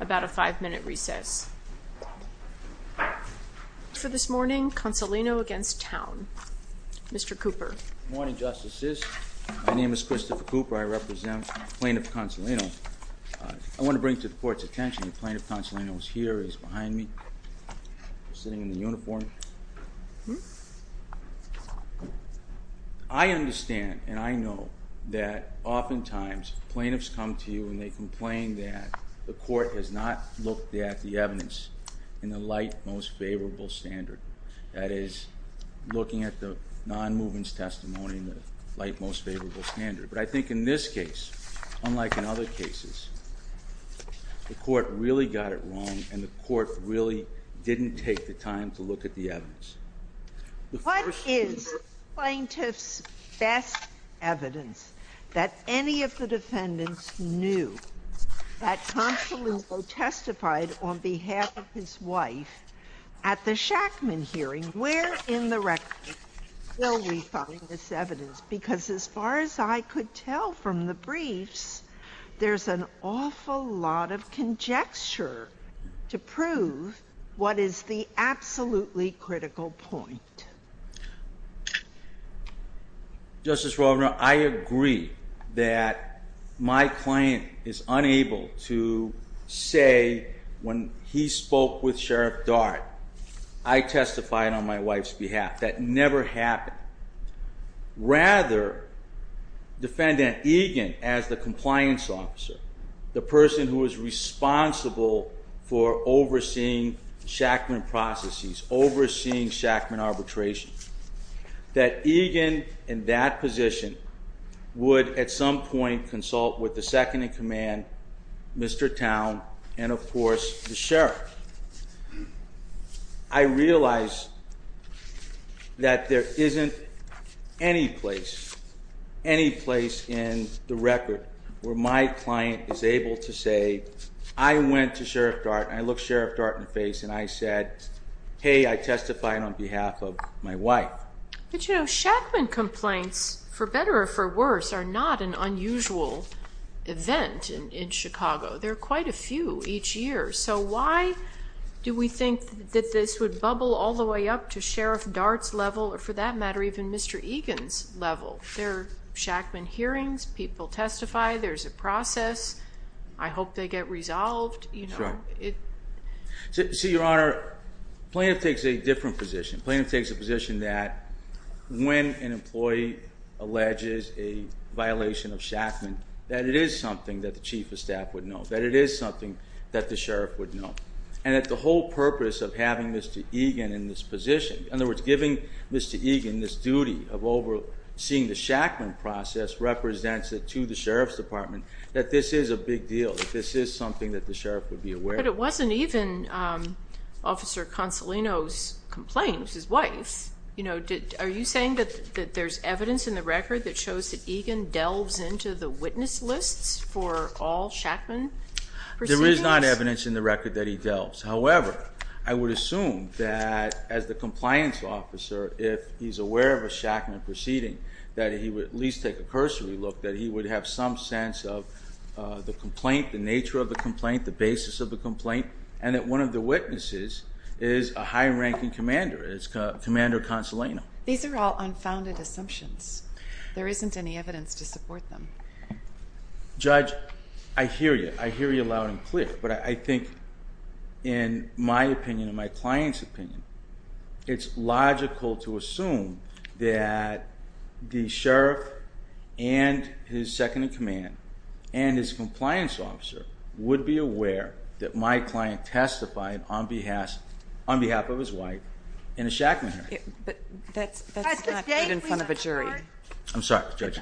about a five minute recess. For this morning, Consolino against Towne. Mr. Cooper. Good morning, Justices. My name is Christopher Cooper. I represent Plaintiff Consolino. I want to bring to the Court's attention that Plaintiff Consolino is here, he's behind me, sitting in the uniform. I understand and I know that oftentimes plaintiffs come to you and they complain that the Court has not looked at the evidence in the light, most favorable standard. That is, looking at the non-movements testimony in the light, most favorable standard. But I think in this case, unlike in other cases, the Court really got it wrong and the Court really didn't take the time to look at the evidence. What is the plaintiff's best evidence that any of the defendants knew that Consolino testified on behalf of his wife at the Shackman hearing? Where in the record will we find this evidence? Because as far as I could tell from the briefs, there's an awful lot of conjecture to prove what is the absolutely critical point. Justice Rovner, I agree that my client is unable to say when he spoke with Sheriff Dart, I testified on my wife's behalf. That never happened. Rather, defendant Egan, as the compliance officer, the person who is responsible for overseeing Shackman processes, overseeing Shackman arbitration, that Egan in that position would at some point consult with the second in command, Mr. Towne, and of course the Sheriff. I realize that there isn't any place in the record where my client is able to say I went to Sheriff Dart and I looked Sheriff Dart in the face and I said, hey, I testified on behalf of my wife. But you know, Shackman complaints, for better or for worse, are not an unusual event in Chicago. There are quite a few each year. So why do we think that this would bubble all the way up to Sheriff Dart's level, or for that matter, even Mr. Egan's level? There are Shackman hearings, people testify, there's a process, I hope they get resolved. Your Honor, plaintiff takes a different position. Plaintiff takes a position that when an employee alleges a violation of Shackman, that it is something that the Chief of Staff would know, that it is something that the Sheriff would know. And that the whole purpose of having Mr. Egan in this position, in other words, giving Mr. Egan this duty of overseeing the Shackman process represents to the Sheriff's Department that this is a big deal, that this is something that the Sheriff would be aware of. But it wasn't even Officer Consolino's complaint, it was his wife. Are you saying that there's evidence in the record that shows that Egan delves into the witness lists for all Shackman proceedings? There is not evidence in the record that he delves. However, I would assume that as the compliance officer, if he's aware of a Shackman proceeding, that he would at least take a cursory look, that he would have some sense of the complaint, the nature of the complaint, the basis of the complaint, and that one of the witnesses is a high-ranking commander. It's Commander Consolino. These are all unfounded assumptions. There isn't any evidence to support them. Judge, I hear you. I hear you loud and clear. But I think, in my opinion, in my client's opinion, it's logical to assume that the Sheriff and his second-in-command and his ass on behalf of his wife in a Shackman hearing. But that's not even in front of a jury. I'm sorry, Judge.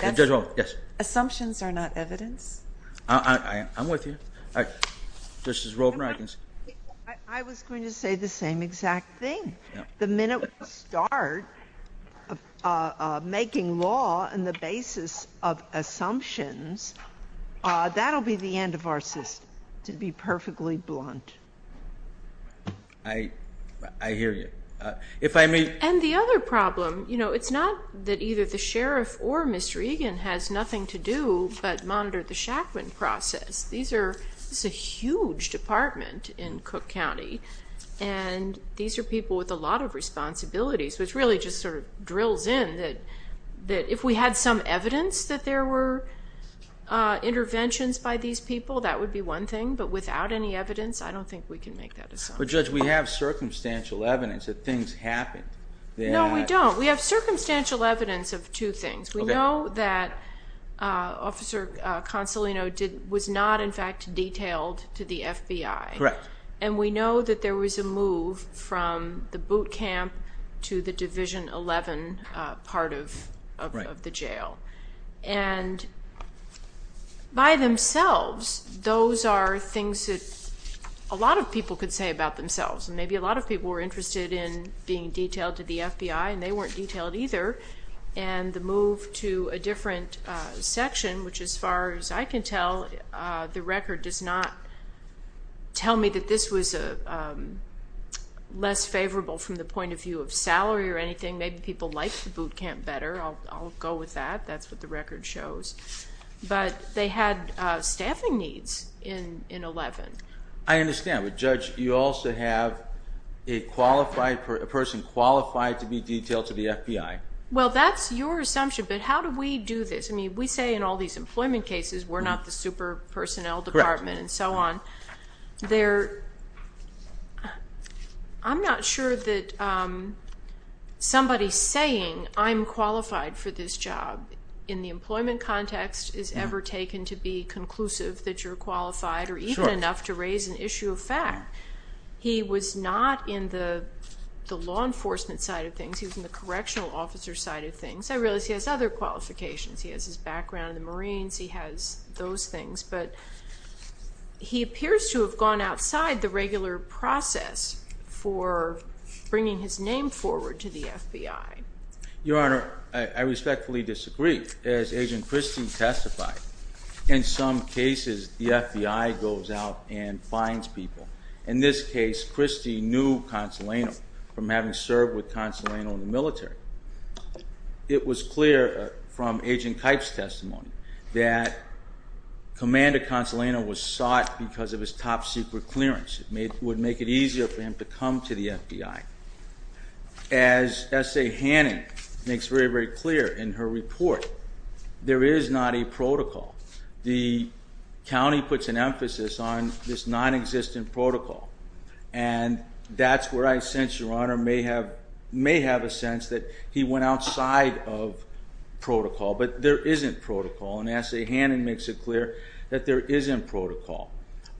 Judge Rollins, yes? Assumptions are not evidence? I'm with you. All right. Justice Rovner, I can... I was going to say the same exact thing. The minute we start making law on the basis of assumptions, that'll be the end of our system, to be perfectly blunt. I hear you. If I may... And the other problem, it's not that either the Sheriff or Mr. Egan has nothing to do but monitor the Shackman process. This is a huge department in Cook County, and these are people with a lot of responsibilities, which really just sort of drills in that if we had some evidence that there were interventions by these people, that would be one thing. But without any evidence, I don't think we can make that assumption. But, Judge, we have circumstantial evidence that things happened. No, we don't. We have circumstantial evidence of two things. We know that Officer Consolino was not, in fact, detailed to the FBI. Correct. And we know that there was no other part of the jail. And by themselves, those are things that a lot of people could say about themselves. And maybe a lot of people were interested in being detailed to the FBI, and they weren't detailed either. And the move to a different section, which as far as I can tell, the record does not tell me that this was less favorable from the point of view of salary or anything. Maybe people liked the boot camp better. I'll go with that. That's what the record shows. But they had staffing needs in 11. I understand. But, Judge, you also have a person qualified to be detailed to the FBI. Well, that's your assumption. But how do we do this? I mean, we say in all these employment cases, we're not the super I'm not sure that somebody saying I'm qualified for this job in the employment context is ever taken to be conclusive that you're qualified or even enough to raise an issue of fact. He was not in the law enforcement side of things. He was in the correctional officer side of things. I realize he has other qualifications. He has his background in the Marines. He has a particular process for bringing his name forward to the FBI. Your Honor, I respectfully disagree. As Agent Christie testified, in some cases the FBI goes out and finds people. In this case, Christie knew Consolano from having served with Consolano in the military. It was clear from Agent Kipe's testimony that Commander Consolano was sought because of his top secret clearance. It would make it easier for him to come to the FBI. As S.A. Hannon makes very, very clear in her report, there is not a protocol. The county puts an emphasis on this nonexistent protocol. And that's where I sense, Your Honor, may have a sense that he went outside of protocol, but there isn't protocol. And S.A. Hannon makes it clear that there isn't protocol.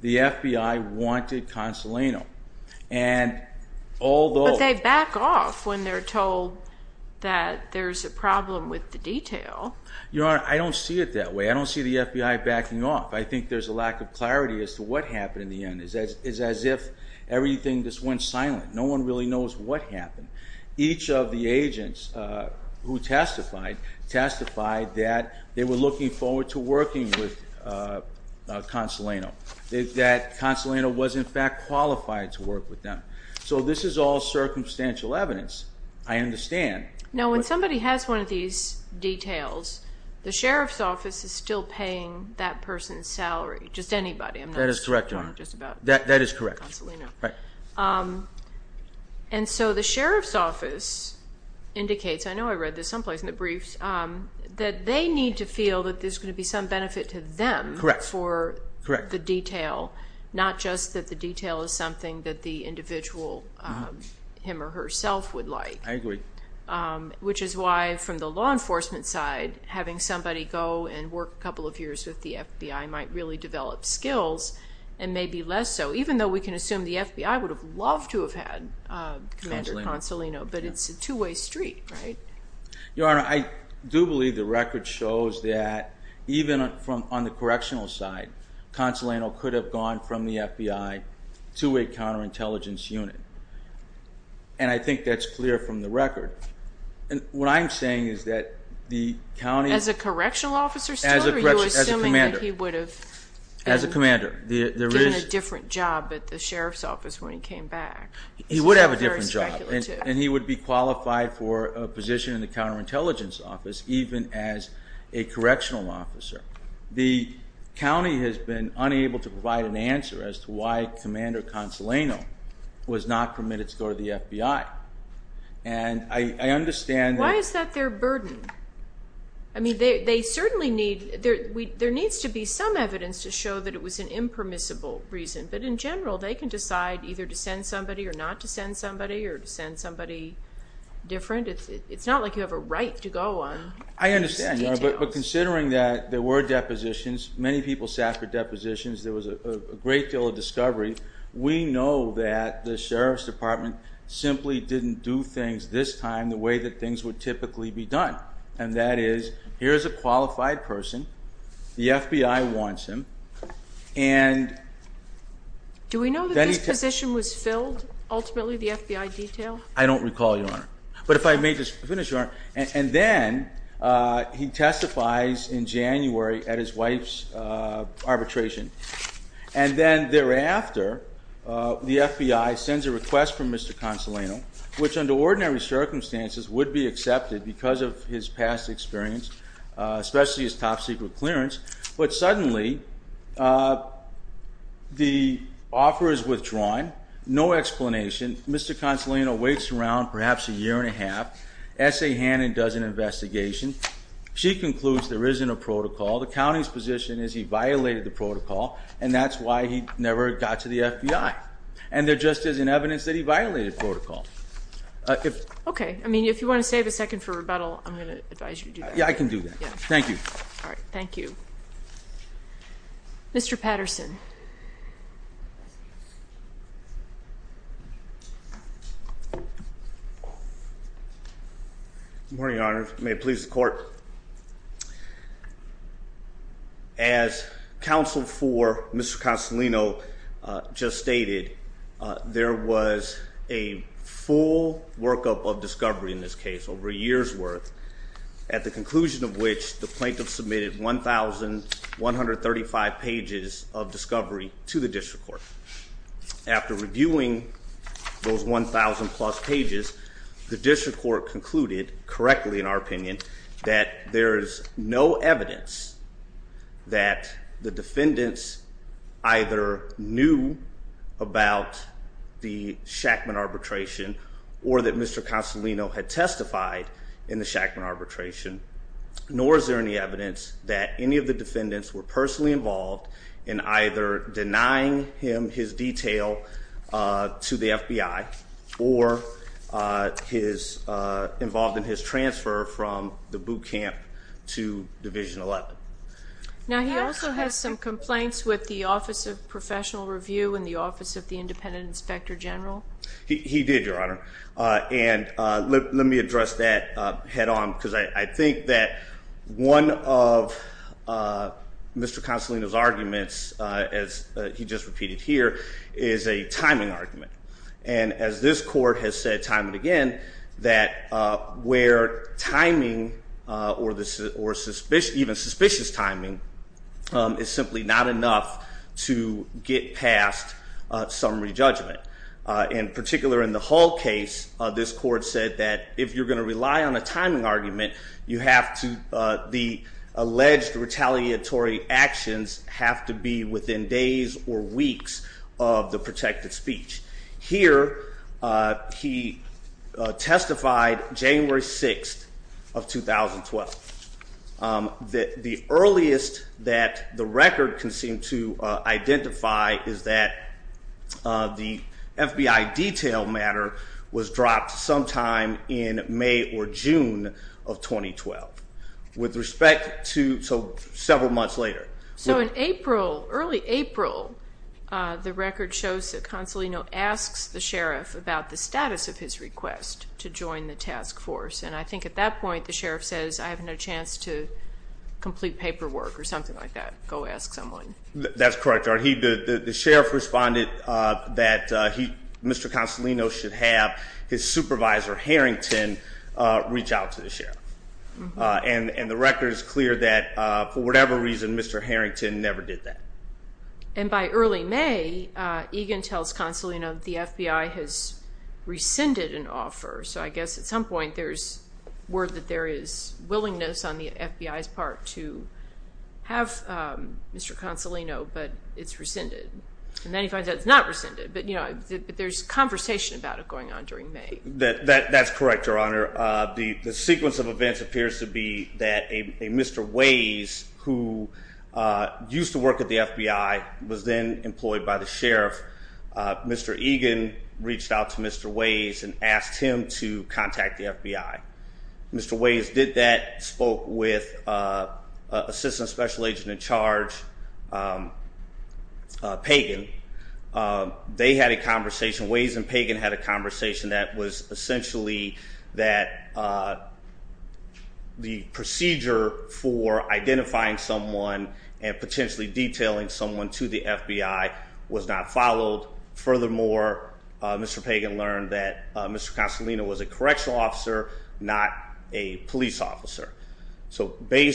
The FBI wanted Consolano. But they back off when they're told that there's a problem with the detail. Your Honor, I don't see it that way. I don't see the FBI backing off. I think there's a lack of clarity as to what happened in the end. It's as if everything just went silent. No one really knows what happened. Each of the agents who testified, testified that they were looking forward to working with Consolano. That Consolano was, in fact, qualified to work with them. So this is all circumstantial evidence. I understand. No, when somebody has one of these details, the Sheriff's Office is still paying that person's That is correct, Your Honor. And so the Sheriff's Office indicates, I know I read this someplace in the briefs, that they need to feel that there's going to be some benefit to them for the detail, not just that the detail is something that the individual, him or herself, would like. I agree. Which is why from the law enforcement side, having somebody go and work a couple of years with the FBI might really develop skills and maybe less so, even though we can assume the FBI would have loved to have had Commander Consolano. But it's a two-way street, right? Your Honor, I do believe the record shows that even on the correctional side, Consolano could have gone from the FBI to a counterintelligence unit. And I think that's clear from the record. And what I'm saying is that the county... As a correctional officer still, or are you assuming that he would have given a different job at the Sheriff's Office when he came back? He would have a different job, and he would be qualified for a position in the counterintelligence office, even as a correctional officer. The county has been unable to provide an answer as to why Commander Consolano was not permitted to go to the FBI. And I understand... Why is that their burden? I mean, there needs to be some evidence to show that it was an impermissible reason. But in general, they can decide either to send somebody or not to send somebody, or to send somebody different. It's not like you have a right to go on I understand, Your Honor, but considering that there were depositions, many people sat for depositions, there was a great deal of discovery, we know that the Sheriff's Department simply didn't do things this time the way that things would typically be done. And that is, here's a qualified person, the FBI wants him, and... Do we know that this position was filled, ultimately, the FBI detail? I don't recall, Your Honor. But if I may just finish, Your Honor, and then he testifies in January at his wife's arbitration. And then thereafter, the FBI sends a request from Mr. Consolano, which under ordinary circumstances would be accepted because of his past experience, especially his top secret clearance, but suddenly the offer is withdrawn, no explanation, Mr. Consolano waits around perhaps a year and a half, S.A. Hannon does an investigation, she concludes there isn't a protocol, the county's position is he violated the protocol, and that's why he never got to the FBI. And there just isn't evidence that he violated protocol. Okay, I mean, if you want to save a second for rebuttal, I'm going to advise you to do that. Yeah, I can do that. Thank you. All right, thank you. Mr. Patterson. Good morning, Your Honor. May it please the Court. As counsel for Mr. Consolano just stated, there was a full workup of discovery in this case, over a year's worth, at the conclusion of which the plaintiff submitted 1,135 pages of discovery to the district court. After reviewing those 1,000 plus pages, the district court concluded, correctly in our opinion, that there is no evidence that the defendants either knew about the Shackman arbitration or that Mr. Consolano had testified in the Shackman arbitration, nor is there any evidence that any of the defendants were personally involved in either denying him his detail to the FBI or involved in his transfer from the boot He did, Your Honor. And let me address that head-on, because I think that one of Mr. Consolano's arguments, as he just repeated here, is a timing argument. And as this Court has said time and again, that where timing or even suspicious timing is simply not enough to get past summary judgment. In particular, in the Hall case, this Court said that if you're going to rely on a timing argument, the alleged retaliatory actions have to be within days or weeks of the protected speech. Here he testified January 6th of 2012. The earliest that the record can seem to identify is that the FBI detail matter was dropped sometime in May or June of 2012. With respect to several months later. So in April, early April, the record shows that Consolano asks the sheriff about the status of his request to join the task force. And I think at that point the sheriff says, I have no chance to complete paperwork or something like that. Go ask someone. That's correct, Your Honor. The sheriff responded that Mr. Consolano should have his supervisor, Harrington, reach out to the sheriff. And the record is clear that for whatever reason, Mr. Harrington never did that. And by early May, Egan tells Consolano that the FBI has rescinded an offer. So I guess at some point there's word that there is willingness on the FBI's part to have Mr. Consolano, but it's rescinded. And then he finds out it's not rescinded. But there's conversation about it going on during May. That's correct, Your Honor. The sequence of events appears to be that a Mr. Ways, who used to work at the FBI, was then employed by the sheriff. Mr. Egan reached out to Mr. Ways and asked him to contact the FBI. Mr. Ways did that, spoke with Assistant Special Agent in Charge Pagan. They had a conversation. Ways and Pagan had a conversation that was essentially that the procedure for identifying someone and potentially detailing someone to the FBI was not followed. Furthermore, Mr. Pagan learned that Mr. Consolano was a correctional officer, not a police officer. So he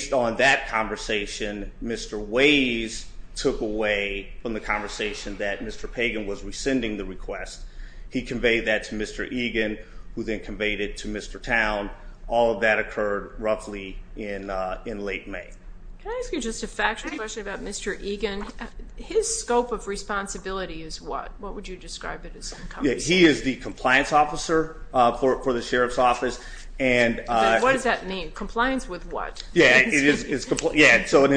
took away from the conversation that Mr. Pagan was rescinding the request. He conveyed that to Mr. Egan, who then conveyed it to Mr. Towne. All of that occurred roughly in late May. Can I ask you just a factual question about Mr. Egan? His scope of responsibility is what? What would you describe it as? He is the compliance officer for the sheriff's office. What does that mean? Compliance with what? In his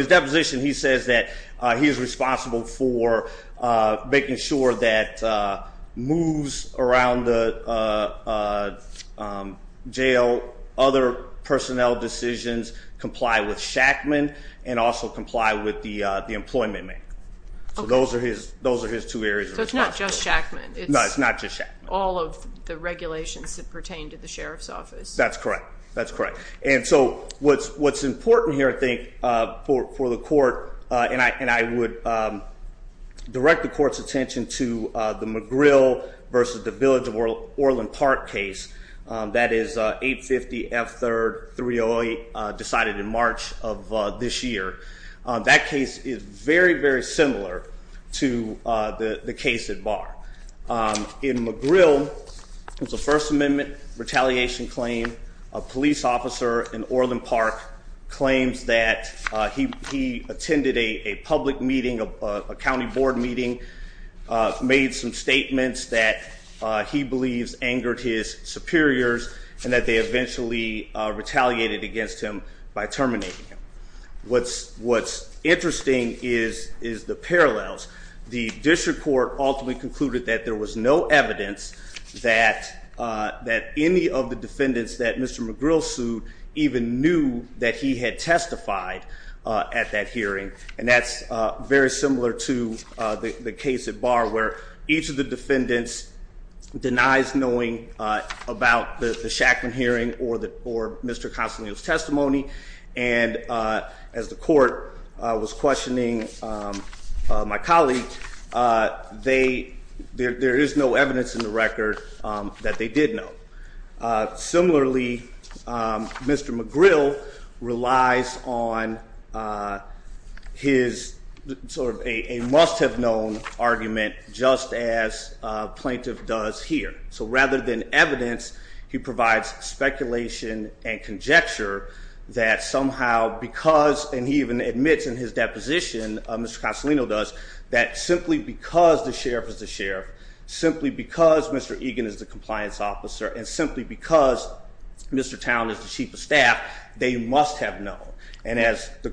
deposition, he says that he is responsible for making sure that moves around the jail, other personnel decisions comply with Shackman and also comply with the employment man. Those are his two areas of responsibility. So it's not just Shackman? No, it's not just Shackman. All of the regulations that pertain to the sheriff's office. That's correct. What's important here, I think, for the court, and I would direct the court's attention to the McGrill versus the Village of Orland Park case. That is 850 F 3rd 308 decided in March of this year. That case is very, very recent case at Barr. In McGrill, it was a First Amendment retaliation claim. A police officer in Orland Park claims that he attended a public meeting, a county board meeting, made some statements that he believes angered his superiors and that they eventually retaliated against him by terminating him. What's interesting is the parallels. The district court ultimately concluded that there was no evidence that any of the defendants that Mr. McGrill sued even knew that he had testified at that hearing. And that's very similar to the case at Barr where each of the defendants denies knowing about the Shackman hearing or Mr. Consolino's testimony. And as the court was questioning my colleague, there is no evidence in the record that they did know. Similarly, Mr. McGrill relies on his sort of a must-have-known argument just as a plaintiff does here. So rather than evidence, he provides speculation and conjecture that somehow because, and he even admits in his deposition, Mr. Consolino does, that simply because the sheriff is the sheriff, simply because Mr. Egan is the compliance officer, and simply because Mr. Towne is the chief of staff, they must have known. And as the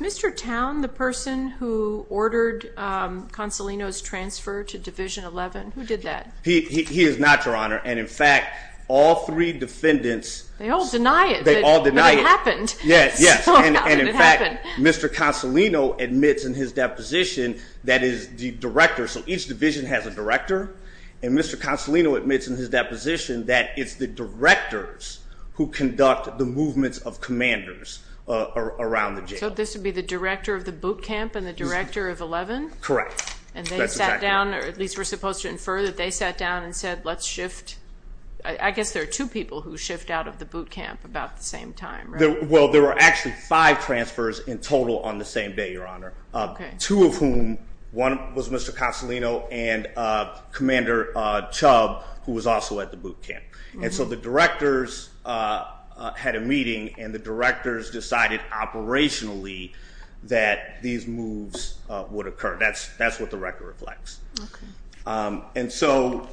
Mr. Towne, the person who ordered Consolino's transfer to Division 11, who did that? He is not, Your Honor. And in fact, all three defendants They all deny it, but it happened. Yes. And in fact, Mr. Consolino admits in his deposition that is the director, so each division has a director, and Mr. Consolino admits in his deposition that it's the directors who conduct the movements of commanders around the jail. So this would be the director of the boot camp and the director of 11? Correct. And they sat down, or at least we're supposed to infer that they sat down and said, let's shift, I guess there are two people who shift out of the boot camp about the same time, right? Well, there were actually five transfers in total on the same day, Your Honor, two of whom, one was Mr. Consolino and Commander Chubb, who was also at the boot camp. And so the directors had a meeting and the directors decided operationally that these moves would occur. That's what the record reflects. And so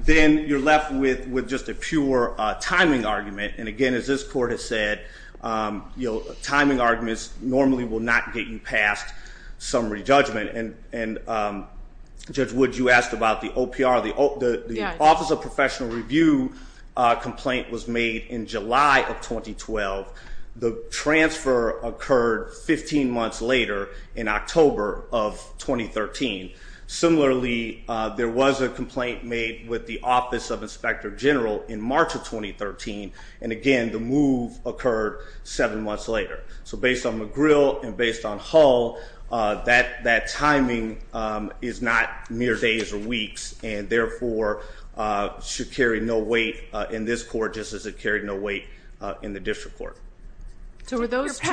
then you're left with just a pure timing argument, and again as this Court has said, timing arguments normally will not get you past summary judgment. And Judge Wood, you asked about the OPR, the Office of Professional Review complaint was made in July of 2012. The transfer occurred 15 months later in October of 2013. Similarly, there was a complaint made with the Office of Inspector General in March of 2013, and again the move occurred seven months later. So based on McGrill and based on Hull, that timing is not mere days or weeks, and therefore should carry no weight in this Court, just as it carried no weight in the District Court. So were those two...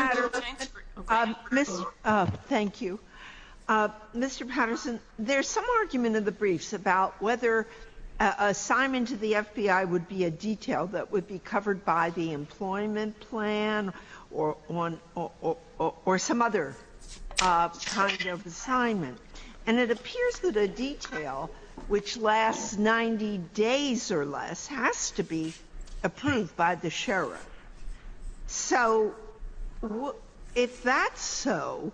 Thank you. Mr. Patterson, there's some argument in the briefs about whether an assignment to the FBI would be a detail that would be covered by the employment plan or some other kind of assignment. And it appears that a detail which lasts 90 days or less has to be approved by the sheriff. So if that's so,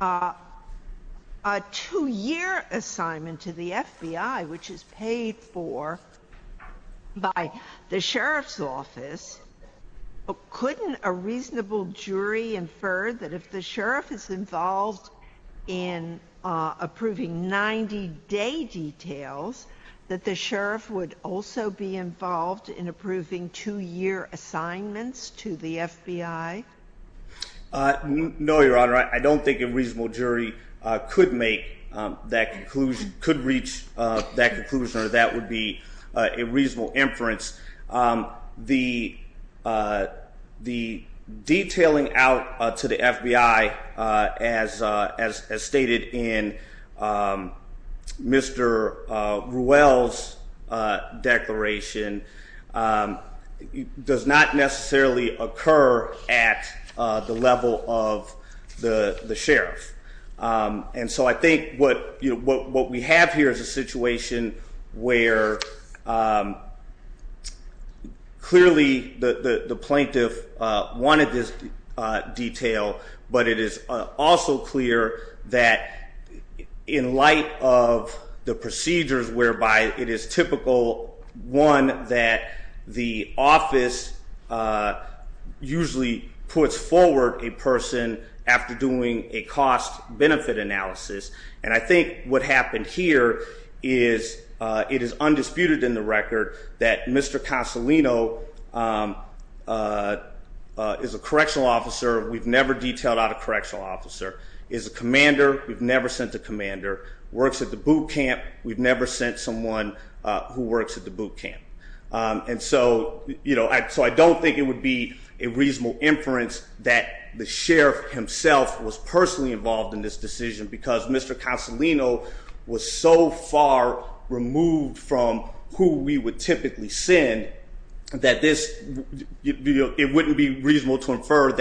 a two-year assignment to the FBI, which is paid for by the sheriff's office, couldn't a reasonable jury infer that if the sheriff is involved in approving 90-day details, that the sheriff would also be involved in approving two-year assignments to the FBI? No, Your Honor. I don't think a reasonable jury could make that conclusion, could reach that conclusion, or that would be a reasonable inference. The detailing out to the FBI, as stated in Mr. Ruel's declaration, does not necessarily occur at the level of the sheriff. And so I think what we have here is a situation where clearly the plaintiff wanted this detail, but it is also clear that in light of the procedures whereby it is typical one, that the office usually puts forward a person after doing a cost-benefit analysis. And I think what happened here is it is undisputed in the record that Mr. Consolino is a person who works at the boot camp. And so I don't think it would be a reasonable inference that the sheriff himself was personally involved in this decision because Mr. Consolino was so far removed from who we would typically send that it wouldn't be reasonable to have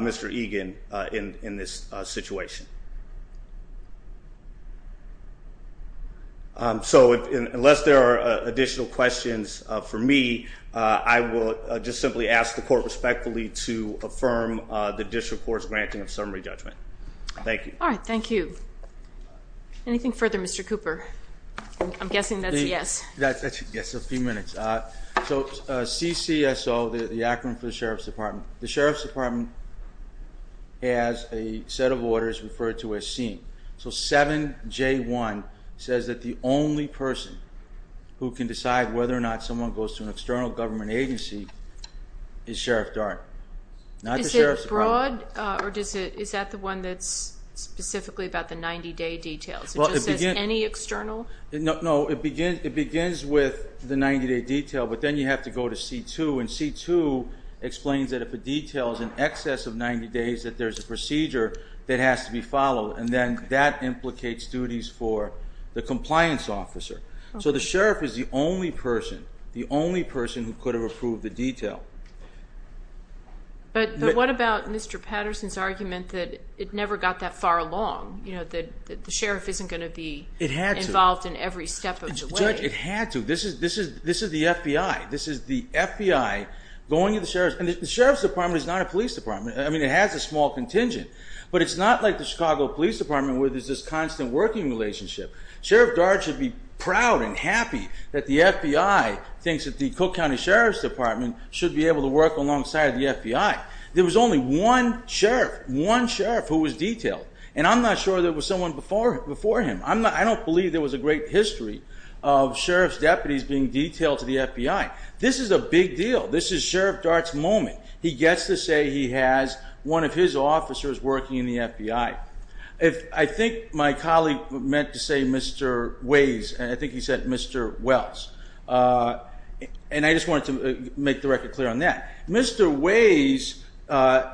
Mr. Egan in this situation. So unless there are additional questions for me, I will just simply ask the court respectfully to affirm the district court's granting of summary judgment. Thank you. Anything further, Mr. Cooper? I'm guessing that's a yes. Yes, a few minutes. So CCSO, the acronym for the Sheriff's Department. The Sheriff's Department has a set of orders referred to as SEEM. So 7J1 says that the only person who can decide whether or not someone goes to an external government agency is Sheriff Darden. Not the Sheriff's Department. Is it broad, or is that the one that's It begins with the 90-day detail, but then you have to go to C2, and C2 explains that if a detail is in excess of 90 days, that there's a procedure that has to be followed. And then that implicates duties for the compliance officer. So the sheriff is the only person, the only person who could have approved the detail. But what about Mr. Patterson's argument that it never got that far along? That the sheriff isn't going to be involved in every step of the way? It had to. This is the FBI. This is the FBI going to the Sheriff's Department. The Sheriff's Department is not a police department. I mean, it has a small contingent. But it's not like the Chicago Police Department where there's this constant working relationship. Sheriff Darden should be proud and happy that the FBI thinks that the Cook County Sheriff's Department should be able to work alongside the FBI. There was only one sheriff, one sheriff who was detailed. And I'm not sure there was someone before him. I don't believe there was a great history of sheriff's deputies being detailed to the FBI. This is a big deal. This is Sheriff Dart's moment. He gets to say he has one of his officers working in the FBI. I think my colleague meant to say Mr. Ways, and I think he said Mr. Wells. And I just wanted to make the record clear on that. Mr. Ways,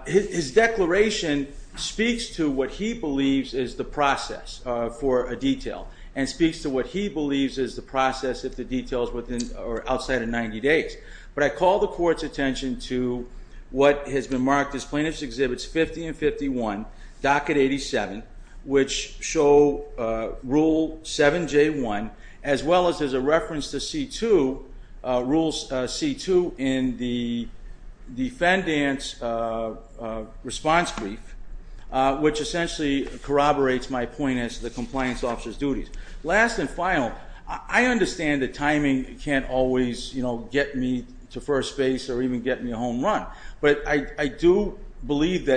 his declaration speaks to what he believes is the process for a detail. And speaks to what he believes is the process if the details are outside of 90 days. But I call the court's attention to what has been marked as Plaintiff's Exhibits 50 and 51, Docket 87, which show Rule 7J1, as well as there's a reference to C2, Rules C2 in the defendant's response brief, which essentially corroborates my point as to the compliance officer's duties. Last and final, I understand that timing can't always get me to first base or even get me a home run. But I hope that the court will reverse the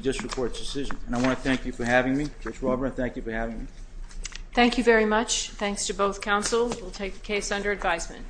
district court's decision. And I want to thank you for having me. Judge Robert, thank you for having me. Thank you very much. Thanks to both counsel. We'll take the case under advisement. Thank you.